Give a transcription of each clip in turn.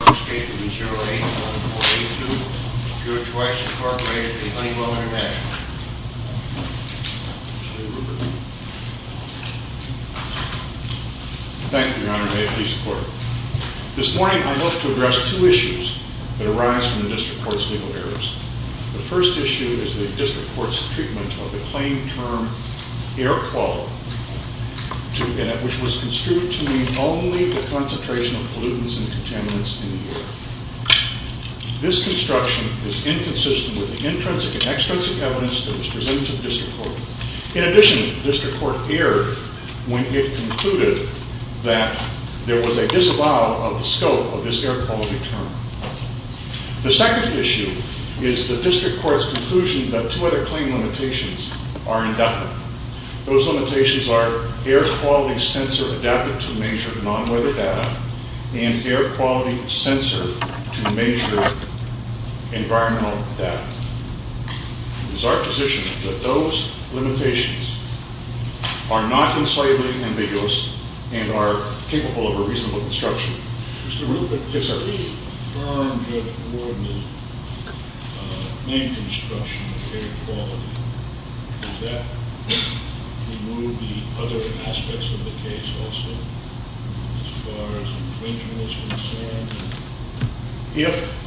Thank you, your honor, may it please the court. This morning I'd like to address two issues that arise from the district court's legal errors. The first issue is the district court's treatment of the claim term air quality, which was construed to mean only the concentration of pollutants and contaminants in the air. This construction is inconsistent with the intrinsic and extrinsic evidence that was presented to the district court. In addition, the district court erred when it concluded that there was a disavowal of the scope of this air quality term. The second issue is the district court's conclusion that two other claim limitations are indefinite. Those limitations are air quality sensor adapted to measure non-weather data and air quality sensor to measure environmental data. It is our position that those limitations are not insolubly ambiguous and are capable of a reasonable construction. If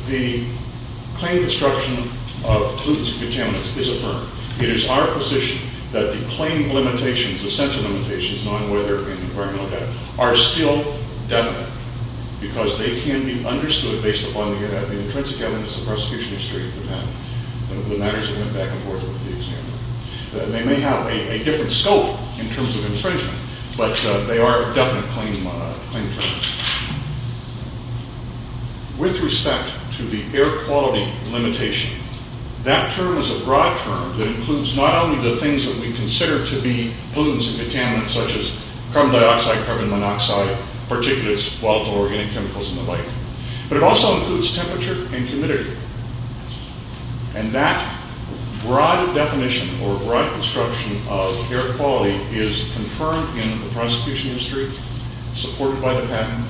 the claim construction of pollutants and contaminants is affirmed, it is our position that the claim limitations, the sensor limitations, non-weather and environmental data are still definite because they can be understood based upon the intrinsic evidence of prosecution history of the matter. They may have a different scope in terms of infringement, but they are definite claim terms. With respect to the air quality limitation, that term is a broad term that includes not only the things that we consider to be pollutants and contaminants such as carbon dioxide, carbon monoxide, particulates, volatile organic chemicals and the like, but it also includes temperature and humidity. And that broad definition or broad construction of air quality is confirmed in the prosecution history, supported by the patent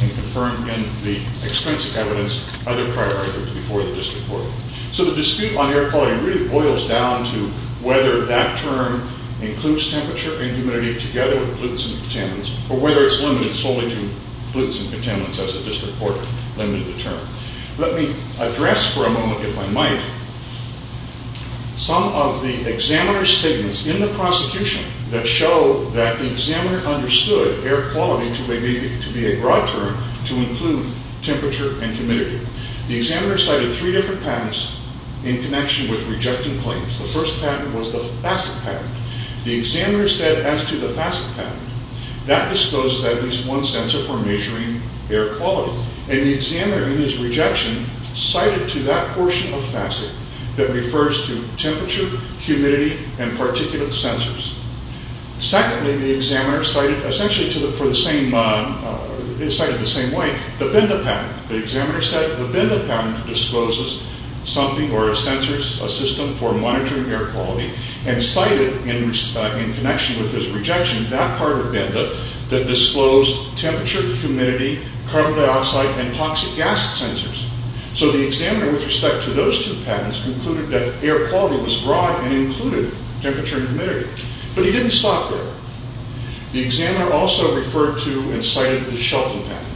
and confirmed in the extensive evidence by the prior records before the district court. So the dispute on air quality really boils down to whether that term includes temperature and humidity together with pollutants and contaminants or whether it's limited solely to pollutants and contaminants as the district court limited the term. Let me address for a moment, if I might, some of the examiner's statements in the prosecution that show that the examiner understood air quality to be a broad term to include temperature and humidity. The examiner cited three different patents in connection with rejecting claims. The first patent was the FASIC patent. The examiner said as to the FASIC patent, that discloses at least one sensor for measuring air quality. And the examiner in his rejection cited to that portion of FASIC that refers to temperature, humidity and particulate sensors. Secondly, the examiner cited essentially for the same, cited the same way, the BINDA patent. The examiner said the BINDA patent discloses something or a sensor, a system for monitoring air quality and cited in connection with his rejection that part of BINDA that disclosed temperature, humidity, carbon dioxide and toxic gas sensors. So the examiner with respect to those two patents concluded that air quality was broad and included temperature and humidity. But he didn't stop there. The examiner also referred to and cited the Shelton patent.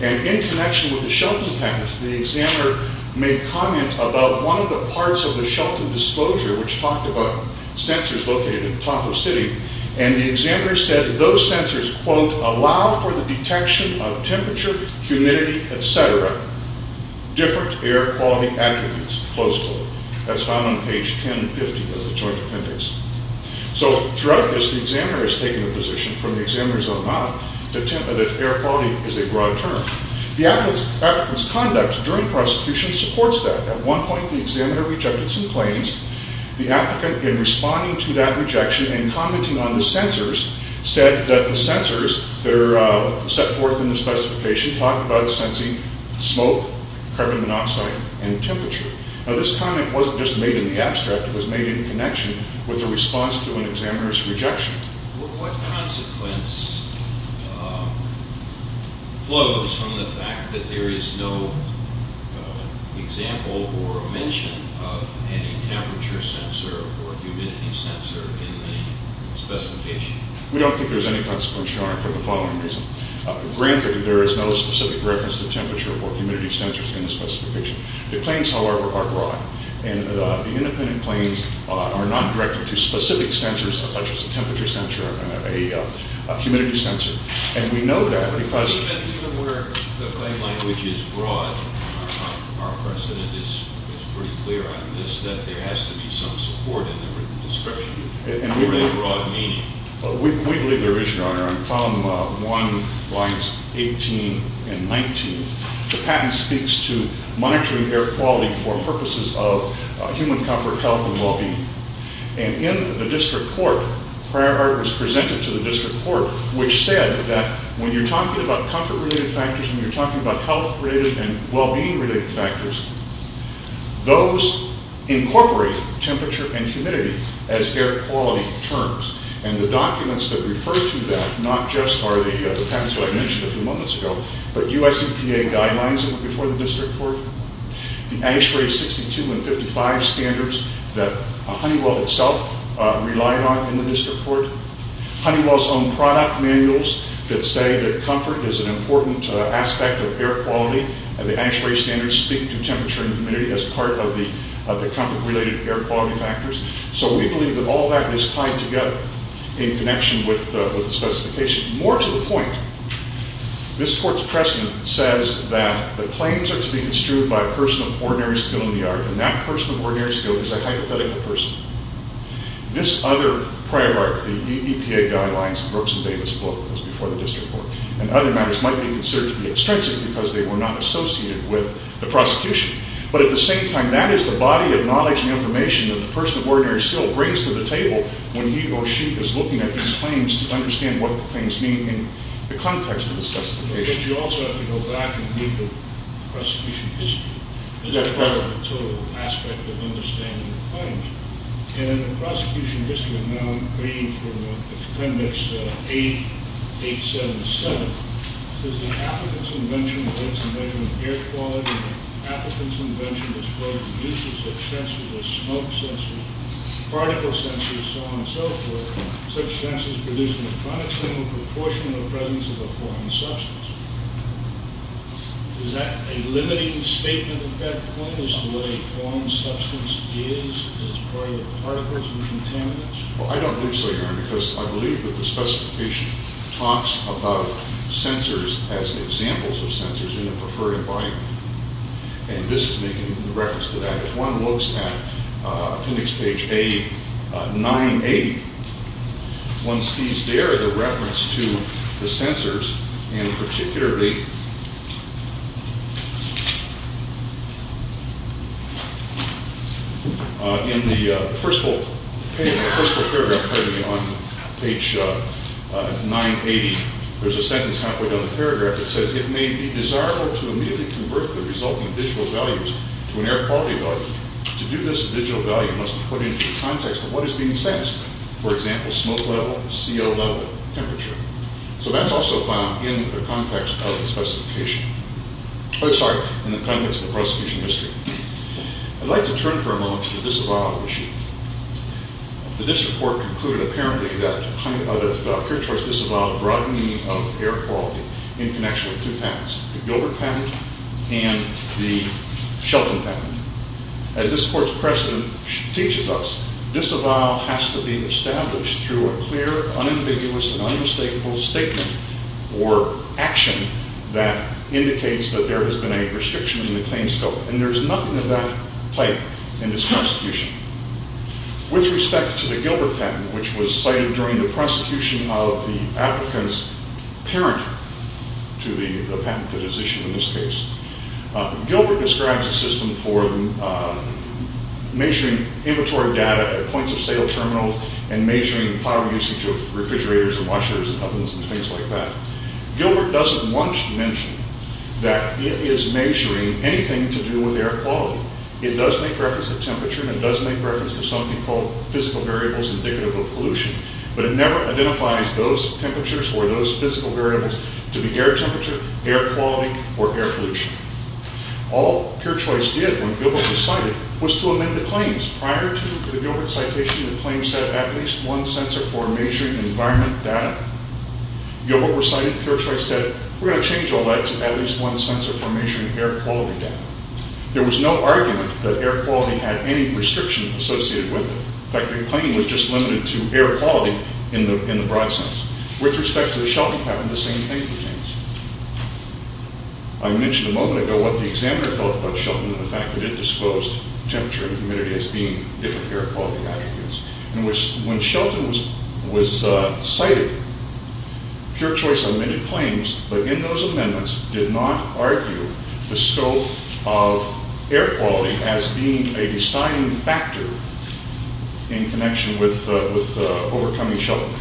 And in connection with the Shelton patent, the examiner made comment about one of the parts of the Shelton disclosure which talked about sensors located at the top of the city. And the examiner said those sensors, quote, allow for the detection of temperature, humidity, etc., different air quality attributes, close quote. That's found on page 1050 of the joint appendix. So throughout this, the examiner has taken a position from the examiner's own mouth that air quality is a broad term. The applicant's conduct during prosecution supports that. At one point, the examiner rejected some claims. The applicant, in responding to that rejection and commenting on the sensors, said that the sensors that are set forth in the specification talk about sensing smoke, carbon monoxide and temperature. Now this comment wasn't just made in the abstract. It was made in connection with the response to an examiner's rejection. What consequence flows from the fact that there is no example or mention of any temperature sensor or humidity sensor in the specification? We don't think there's any consequence, Your Honor, for the following reason. Granted, there is no specific reference to temperature or humidity sensors in the specification. The claims, however, are broad. And the independent claims are not directed to specific sensors, such as a temperature sensor or a humidity sensor. And we know that because- Even where the claim language is broad, our precedent is pretty clear on this, that there has to be some support in the written description for a broad meaning. We believe there is, Your Honor. On column 1, lines 18 and 19, the patent speaks to monitoring air quality for purposes of human comfort, health and well-being. And in the district court, prior art was presented to the district court, which said that when you're talking about comfort-related factors, when you're talking about health-related and well-being-related factors, those incorporate temperature and humidity as air quality terms. And the documents that refer to that not just are the patents that I mentioned a few moments ago, but U.S. EPA guidelines before the district court, the ASHRAE 62 and 55 standards that Honeywell itself relied on in the district court, Honeywell's own product manuals that say that comfort is an important aspect of air quality, and the ASHRAE standards speak to temperature and humidity as part of the comfort-related air quality factors. So we believe that all that is tied together in connection with the specification. More to the point, this court's precedent says that the claims are to be construed by a person of ordinary skill in the art, and that person of ordinary skill is a hypothetical person. This other prior art, the EPA guidelines, Brooks and Davis book, was before the district court, and other matters might be considered to be extrinsic because they were not associated with the prosecution. But at the same time, that is the body of knowledge and information that the person of ordinary skill brings to the table when he or she is looking at these claims to understand what the claims mean in the context of the specification. But you also have to go back and read the prosecution history. That's correct. That's the total aspect of understanding the claims. And in the prosecution history, now I'm reading from Appendix 8, 877, does the applicant's invention or its invention of air quality and the applicant's invention as far as the use of such sensors as smoke sensors, particle sensors, so on and so forth, such sensors produce an electronic signal proportional to the presence of a foreign substance. Is that a limiting statement? Is that pointless the way a foreign substance is as part of particles and contaminants? Well, I don't believe so, Your Honor, because I believe that the specification talks about sensors as examples of sensors in a preferred environment. And this is making reference to that. If one looks at Appendix Page A, 9A, one sees there the reference to the sensors, and particularly in the first paragraph on page 980, there's a sentence halfway down the paragraph that says, it may be desirable to immediately convert the resulting visual values to an air quality value. To do this, a digital value must be put into the context of what is being sensed, So that's also found in the context of the specification. I'm sorry, in the context of the prosecution history. I'd like to turn for a moment to the disavowal issue. The district court concluded apparently that the pure choice disavowal brought meaning of air quality in connection with two patents, the Gilbert patent and the Shelton patent. As this court's precedent teaches us, disavowal has to be established through a clear, unambiguous, and unmistakable statement or action that indicates that there has been a restriction in the claim scope. And there's nothing of that type in this prosecution. With respect to the Gilbert patent, which was cited during the prosecution of the applicant's parent to the patent that is issued in this case, Gilbert describes a system for measuring inventory data at points of sale terminals and measuring power usage of refrigerators and washers and ovens and things like that. Gilbert doesn't once mention that it is measuring anything to do with air quality. It does make reference to temperature and it does make reference to something called physical variables indicative of pollution. But it never identifies those temperatures or those physical variables to be air temperature, air quality, or air pollution. All pure choice did when Gilbert was cited was to amend the claims. Prior to the Gilbert citation, the claim said at least one sensor for measuring environment data. Gilbert was cited, pure choice said, we're going to change all that to at least one sensor for measuring air quality data. There was no argument that air quality had any restriction associated with it. In fact, the claim was just limited to air quality in the broad sense. With respect to the Shelton patent, the same thing pertains. I mentioned a moment ago what the examiner felt about Shelton and the fact that it disclosed temperature and humidity as being different air quality attributes. When Shelton was cited, pure choice amended claims, but in those amendments did not argue the scope of air quality as being a deciding factor in connection with overcoming Shelton.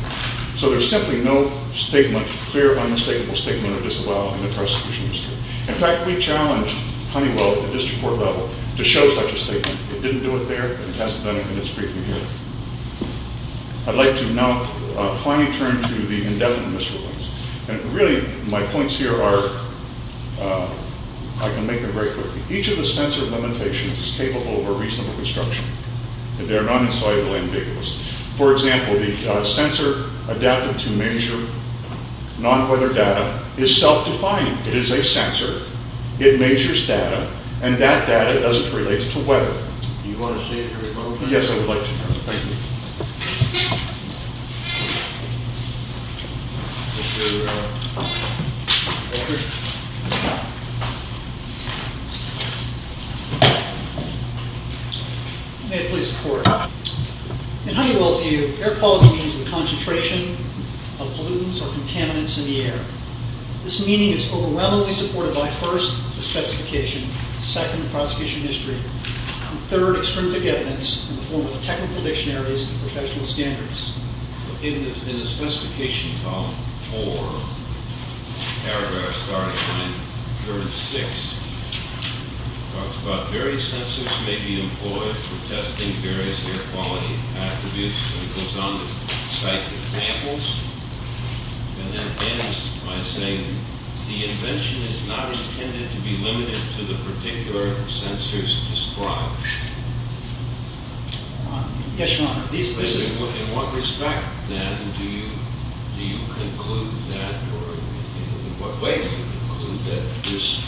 So there's simply no statement, clear, unmistakable statement of disavowal in the prosecution history. In fact, we challenged Honeywell at the district court level to show such a statement. It didn't do it there, and it hasn't done it in its briefing here. I'd like to now finally turn to the indefinite misremembers. And really, my points here are, I can make them very quickly. Each of the sensor limitations is capable of a reasonable construction. They are not insoluble ambiguous. For example, the sensor adapted to measure non-weather data is self-defined. It is a sensor. It measures data, and that data doesn't relate to weather. Do you want to say anything? Yes, I would like to. Thank you. May it please the court. In Honeywell's view, air quality means the concentration of pollutants or contaminants in the air. This meaning is overwhelmingly supported by, first, the specification, second, prosecution history, and third, extrinsic evidence in the form of technical dictionaries and professional standards. In the specification column four, paragraph starting line 36, it talks about various sensors may be employed for testing various air quality attributes. It goes on to cite examples, and then ends by saying, the invention is not intended to be limited to the particular sensors described. Yes, Your Honor. In what respect, then, do you conclude that or in what way do you conclude that this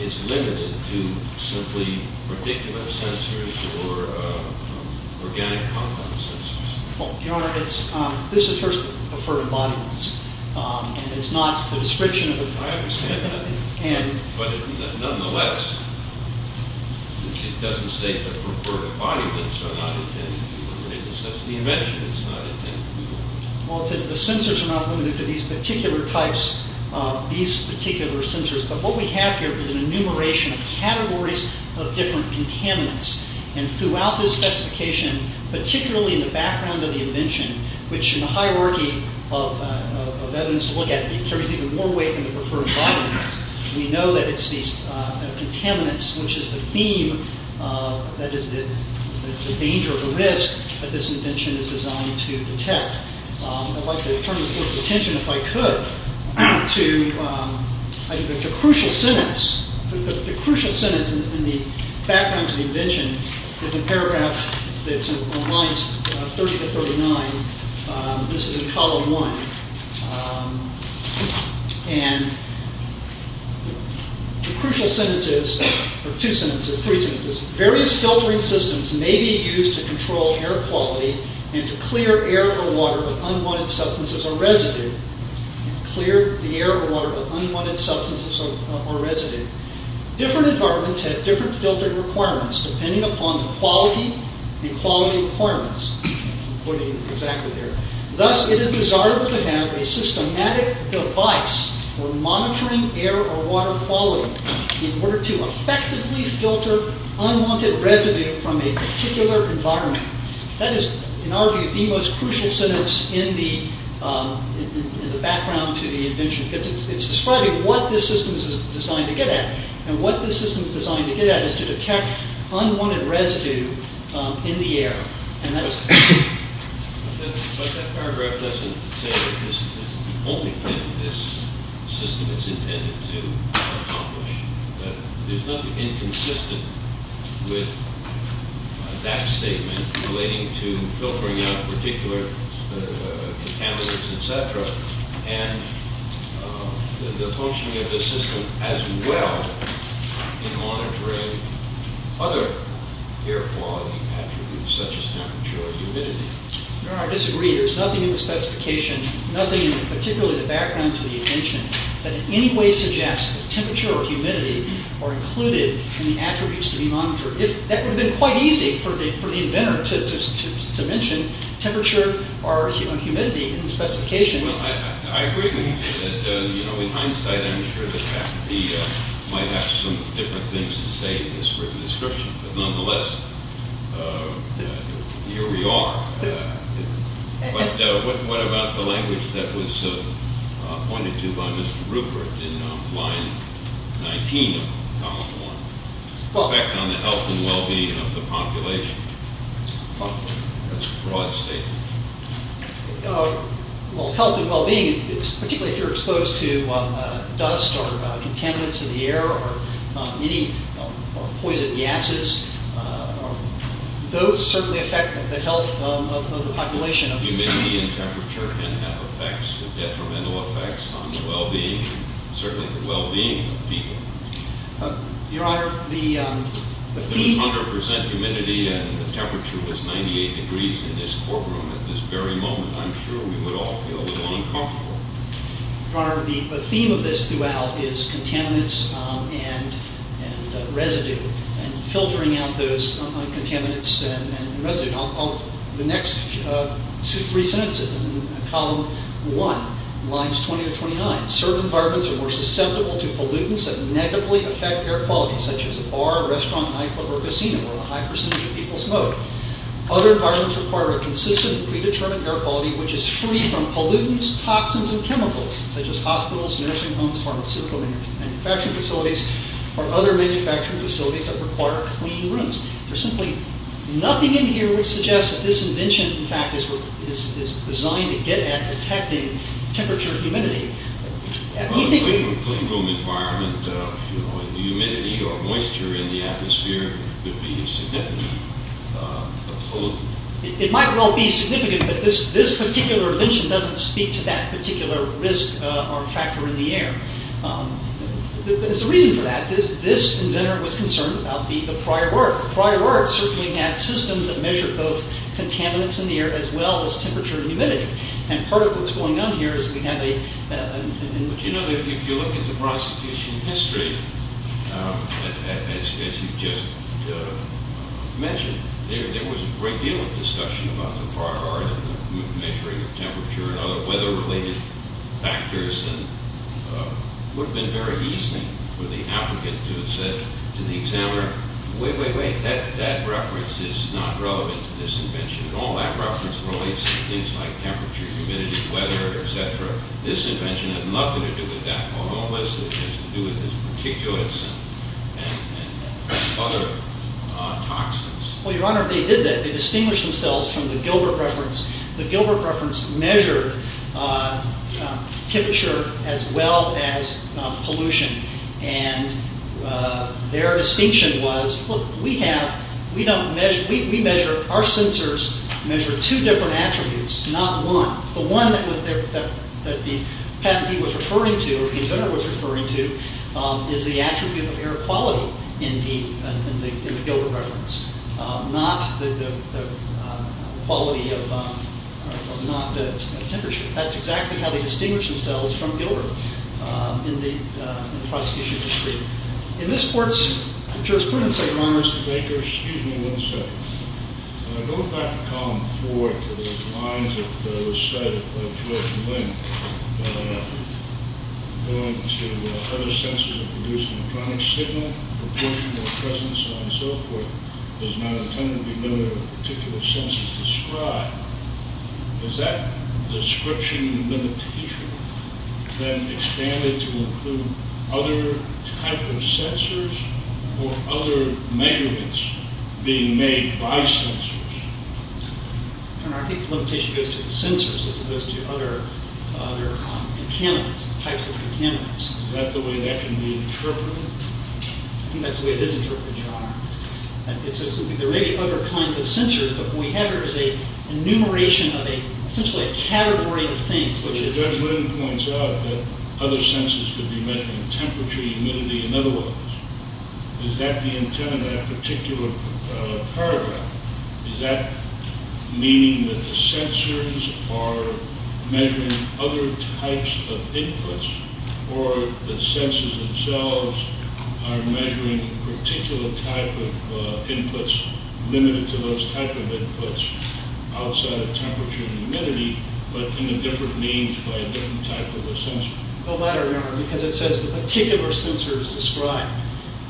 is limited to simply predicament sensors or organic compound sensors? Your Honor, this is first deferred embodiments, and it's not the description of the products. I understand that. But nonetheless, it doesn't state that deferred embodiments are not intended to be limited. That's the invention. It's not intended to be limited. Well, it says the sensors are not limited to these particular types, these particular sensors. But what we have here is an enumeration of categories of different contaminants. And throughout this specification, particularly in the background of the invention, which in the hierarchy of evidence to look at carries even more weight than the deferred embodiments, we know that it's these contaminants, which is the theme that is the danger, the risk that this invention is designed to detect. I'd like to turn the Court's attention, if I could, to the crucial sentence. The crucial sentence in the background to the invention is a paragraph that's on lines 30 to 39. This is in column one. And the crucial sentence is, or two sentences, three sentences, is various filtering systems may be used to control air quality and to clear air or water of unwanted substances or residue. Clear the air or water of unwanted substances or residue. Different environments have different filtering requirements, depending upon the quality and quality requirements. I'm quoting exactly there. Thus, it is desirable to have a systematic device for monitoring air or water quality in order to effectively filter unwanted residue from a particular environment. That is, in our view, the most crucial sentence in the background to the invention because it's describing what this system is designed to get at. And what this system is designed to get at is to detect unwanted residue in the air. But that paragraph doesn't say that this is the only thing this system is intended to accomplish. There's nothing inconsistent with that statement relating to filtering out particular contaminants, etc. and the functioning of this system as well in monitoring other air quality attributes, such as temperature or humidity. I disagree. There's nothing in the specification, nothing in particularly the background to the invention, that in any way suggests that temperature or humidity are included in the attributes to be monitored. That would have been quite easy for the inventor to mention temperature or humidity in the specification. Well, I agree with you. In hindsight, I'm sure the faculty might have some different things to say in this written description. But nonetheless, here we are. But what about the language that was pointed to by Mr. Rupert in line 19 of column 1, the effect on the health and well-being of the population? That's a broad statement. Well, health and well-being, particularly if you're exposed to dust or contaminants in the air or any poison gases, those certainly affect the health of the population. Humidity and temperature can have effects, detrimental effects on the well-being, certainly the well-being of people. Your Honor, the feed... I'm sure we would all feel a little uncomfortable. Your Honor, the theme of this throughout is contaminants and residue and filtering out those contaminants and residue. The next two, three sentences in column 1, lines 20 to 29, certain environments are more susceptible to pollutants that negatively affect air quality, such as a bar, restaurant, nightclub, or casino, where a high percentage of people smoke. Other environments require a consistent and predetermined air quality which is free from pollutants, toxins, and chemicals, such as hospitals, nursing homes, pharmaceutical manufacturing facilities, or other manufacturing facilities that require clean rooms. There's simply nothing in here which suggests that this invention, in fact, is designed to get at detecting temperature and humidity. In a clean room environment, humidity or moisture in the atmosphere could be significant. It might well be significant, but this particular invention doesn't speak to that particular risk or factor in the air. There's a reason for that. This inventor was concerned about the prior work. The prior work certainly had systems that measured both contaminants in the air as well as temperature and humidity. And part of what's going on here is we have a... But you know, if you look at the prosecution history, as you just mentioned, there was a great deal of discussion about the prior work and the measuring of temperature and other weather-related factors and it would have been very easy for the applicant to have said to the examiner, wait, wait, wait, that reference is not relevant to this invention. All that reference relates to things like temperature, humidity, weather, etc. This invention has nothing to do with that. All it has to do with is particulates and other toxins. Well, Your Honor, they did that. They distinguished themselves from the Gilbert reference. The Gilbert reference measured temperature as well as pollution. And their distinction was, look, we have... Our sensors measure two different attributes, not one. The one that the patentee was referring to, the inventor was referring to, is the attribute of air quality in the Gilbert reference, not the temperature. That's exactly how they distinguished themselves from Gilbert in the prosecution history. In this court's jurisprudence, Your Honor... Mr. Baker, excuse me one second. Going back to Column 4, to the lines that were studied by George and Lynn, going to other sensors that produce an electronic signal, proportional presence, and so forth, does not intend to be limited to a particular sensor described. Is that description limited to history? Then expanded to include other type of sensors or other measurements being made by sensors? Your Honor, I think the limitation goes to the sensors as opposed to other types of contaminants. Is that the way that can be interpreted? I think that's the way it is interpreted, Your Honor. There may be other kinds of sensors, but what we have here is an enumeration of essentially a category of things. Judge Lynn points out that other sensors could be measuring temperature, humidity, and other ones. Is that the intent of that particular paragraph? Is that meaning that the sensors are measuring other types of inputs or the sensors themselves are measuring a particular type of inputs, limited to those type of inputs, outside of temperature and humidity, but in a different range by a different type of a sensor? Well, that I remember, because it says the particular sensors described,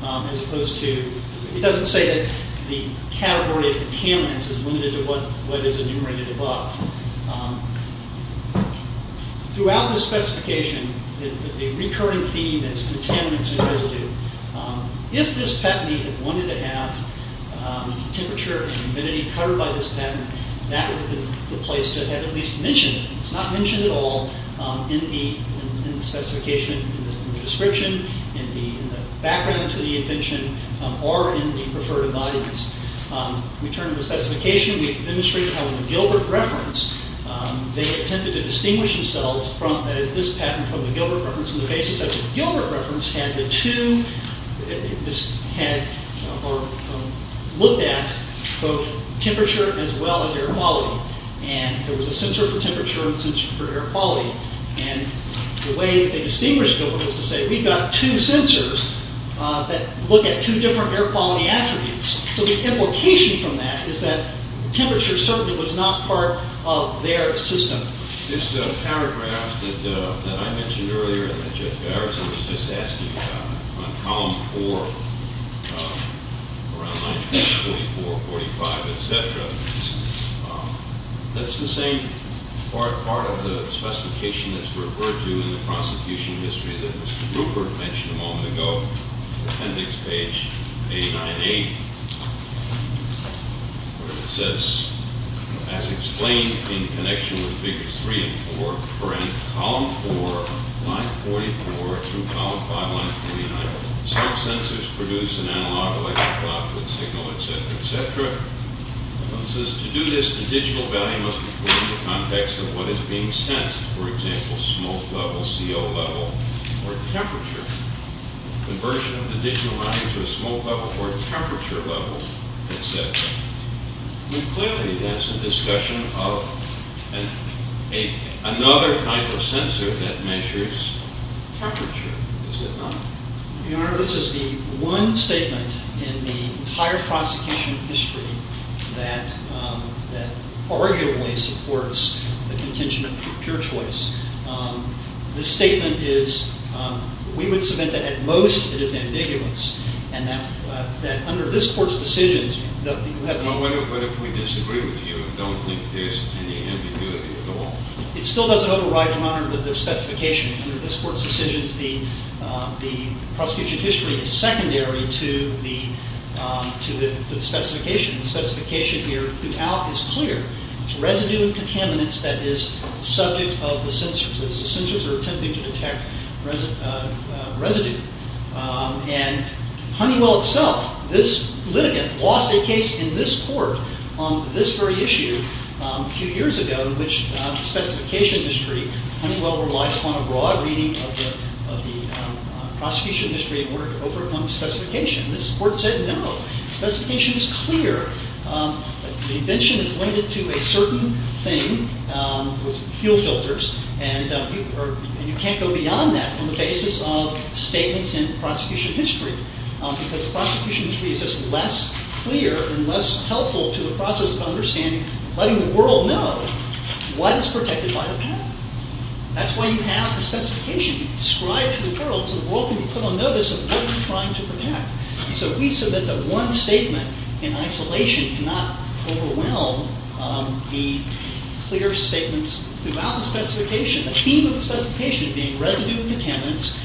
as opposed to, it doesn't say that the category of contaminants is limited to what is enumerated above. Throughout the specification, the recurring theme is contaminants and residue. If this patentee had wanted to have temperature and humidity covered by this patent, that would have been the place to have at least mentioned it. It's not mentioned at all in the specification, in the description, in the background to the invention, or in the refer to bodies. We turned to the specification. We demonstrated how in the Gilbert reference, they attempted to distinguish themselves, that is, this patent from the Gilbert reference, and the basis of the Gilbert reference had the two, had looked at both temperature as well as air quality. And there was a sensor for temperature and a sensor for air quality. And the way they distinguished Gilbert was to say, we've got two sensors that look at two different air quality attributes. So the implication from that is that temperature certainly was not part of their system. This paragraph that I mentioned earlier and that Judge Garrison was just asking about, on column four, around 1944, 45, et cetera, that's the same part of the specification that's referred to in the prosecution history that Mr. Rupert mentioned a moment ago, appendix page 898, where it says, as explained in connection with figures three and four, for any column four, line 44, through column five, line 49, some sensors produce an analog electrical output signal, et cetera, et cetera. It says, to do this, the digital value must be put in the context of what is being sensed, for example, smoke level, CO level, or temperature. Conversion of the digital value to a smoke level or temperature level, et cetera. Clearly, that's a discussion of another type of sensor that measures temperature, is it not? Your Honor, this is the one statement in the entire prosecution history that arguably supports the contingent of pure choice. This statement is, we would submit that at most, it is ambiguous, and that under this court's decisions, that you have... But what if we disagree with you and don't think there's any ambiguity at all? It still doesn't override, Your Honor, the specification. Under this court's decisions, the prosecution history is secondary to the specification. The specification here throughout is clear. It's residue and contaminants that is subject of the sensors. The sensors are attempting to detect residue. And Honeywell itself, this litigant, lost a case in this court on this very issue a few years ago in which the specification history, Honeywell relied upon a broad reading of the prosecution history in order to overcome specification. This court said no. The specification is clear. The invention is limited to a certain thing, fuel filters, and you can't go beyond that on the basis of statements in the prosecution history because the prosecution history is just less clear and less helpful to the process of understanding, letting the world know what is protected by the patent. That's why you have the specification described to the world so the world can be put on notice of what you're trying to protect. So if we submit the one statement in isolation, it cannot overwhelm the clear statements throughout the specification. The theme of the specification being residue and contaminants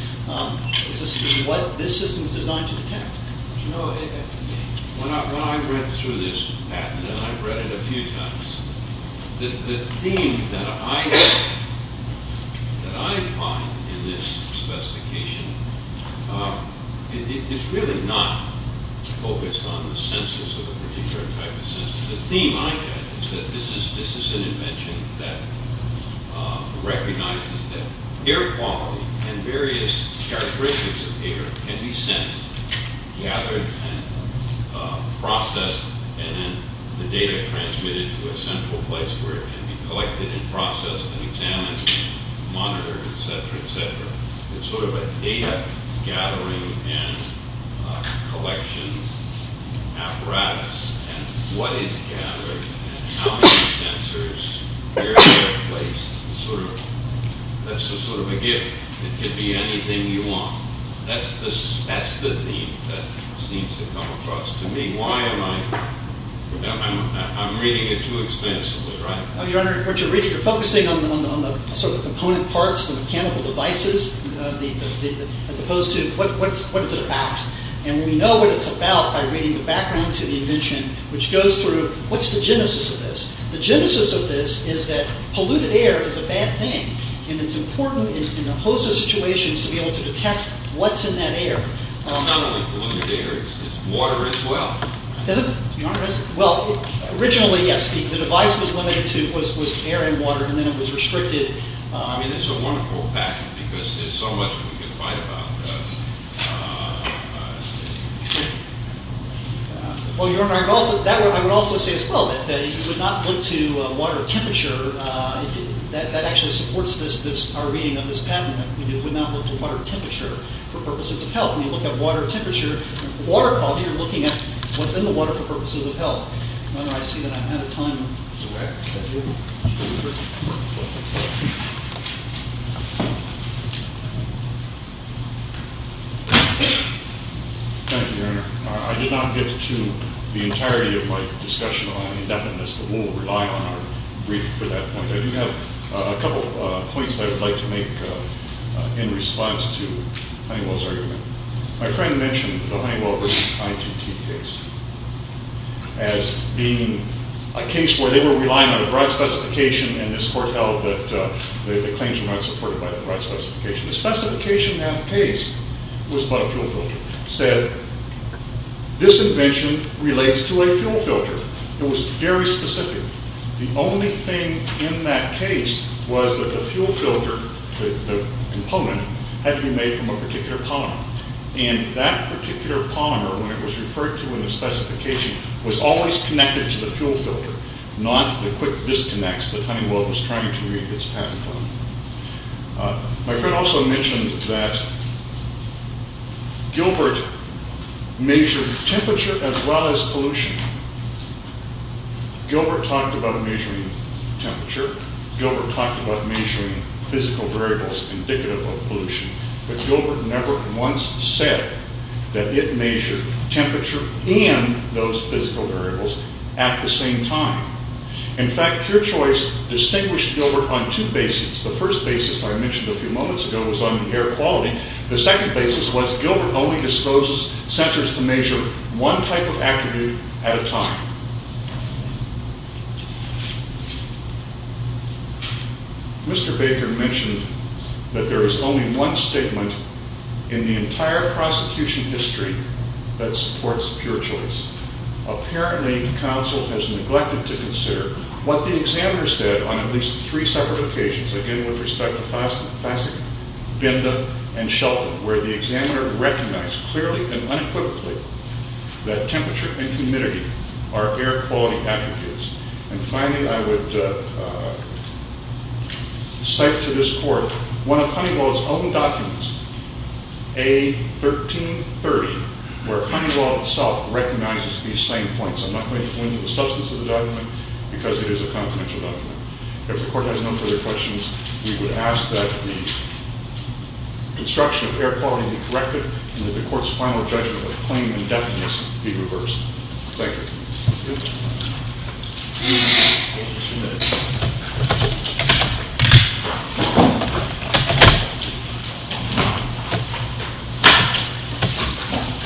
is what this system is designed to detect. When I read through this patent, and I've read it a few times, the theme that I find in this specification is really not focused on the sensors of a particular type of sensors. The theme I get is that this is an invention that recognizes that air quality and various characteristics of air can be sensed, gathered, and processed, and then the data transmitted to a central place where it can be collected and processed and examined, monitored, etc., etc. It's sort of a data gathering and collection apparatus, and what is gathered and how many sensors, where they're placed. That's sort of a gift. It could be anything you want. That's the theme that seems to come across to me. Why am I... I'm reading it too extensively, right? Your Honor, what you're reading, you're focusing on the sort of component parts, the mechanical devices, as opposed to what is it about. And we know what it's about by reading the background to the invention, which goes through what's the genesis of this. The genesis of this is that polluted air is a bad thing, and it's important in a host of situations to be able to detect what's in that air. Well, not only polluted air, it's water as well. Well, originally, yes, the device was limited to air and water, and then it was restricted... I mean, it's a wonderful patent because there's so much we can find about... Well, Your Honor, I would also say as well that you would not look to water temperature. That actually supports our reading of this patent. You would not look to water temperature for purposes of health. When you look at water temperature, water quality, you're looking at what's in the water for purposes of health. Your Honor, I see that I'm out of time. Thank you, Your Honor. I did not get to the entirety of my discussion on indefiniteness, but we'll rely on our brief for that point. I do have a couple of points that I would like to make in response to Honeywell's argument. My friend mentioned the Honeywell v. ITT case as being a case where they were relying on a broad specification, and this court held that the claims were not supported by the broad specification. The specification in that case was about a fuel filter. It said, this invention relates to a fuel filter. It was very specific. The only thing in that case was that the fuel filter, the component, had to be made from a particular polymer, and that particular polymer, when it was referred to in the specification, was always connected to the fuel filter, not the quick disconnects that Honeywell was trying to read its patent on. My friend also mentioned that Gilbert mentioned temperature as well as pollution. Gilbert talked about measuring temperature. Gilbert talked about measuring physical variables indicative of pollution, but Gilbert never once said that it measured temperature and those physical variables at the same time. In fact, pure choice distinguished Gilbert on two bases. The first basis I mentioned a few moments ago was on the air quality. The second basis was Gilbert only disposes censors to measure one type of attribute at a time. Mr. Baker mentioned that there is only one statement in the entire prosecution history that supports pure choice. Apparently, the counsel has neglected to consider what the examiner said on at least three separate occasions, again with respect to Fasig, Binda, and Shelton, where the examiner recognized clearly and unequivocally that temperature and humidity are air quality attributes. And finally, I would cite to this Court one of Honeywell's own documents, A1330, where Honeywell itself recognizes these same points. I'm not going to go into the substance of the document because it is a confidential document. If the Court has no further questions, we would ask that the construction of air quality be corrected and that the Court's final judgment of the claim indefinite be reversed. Thank you.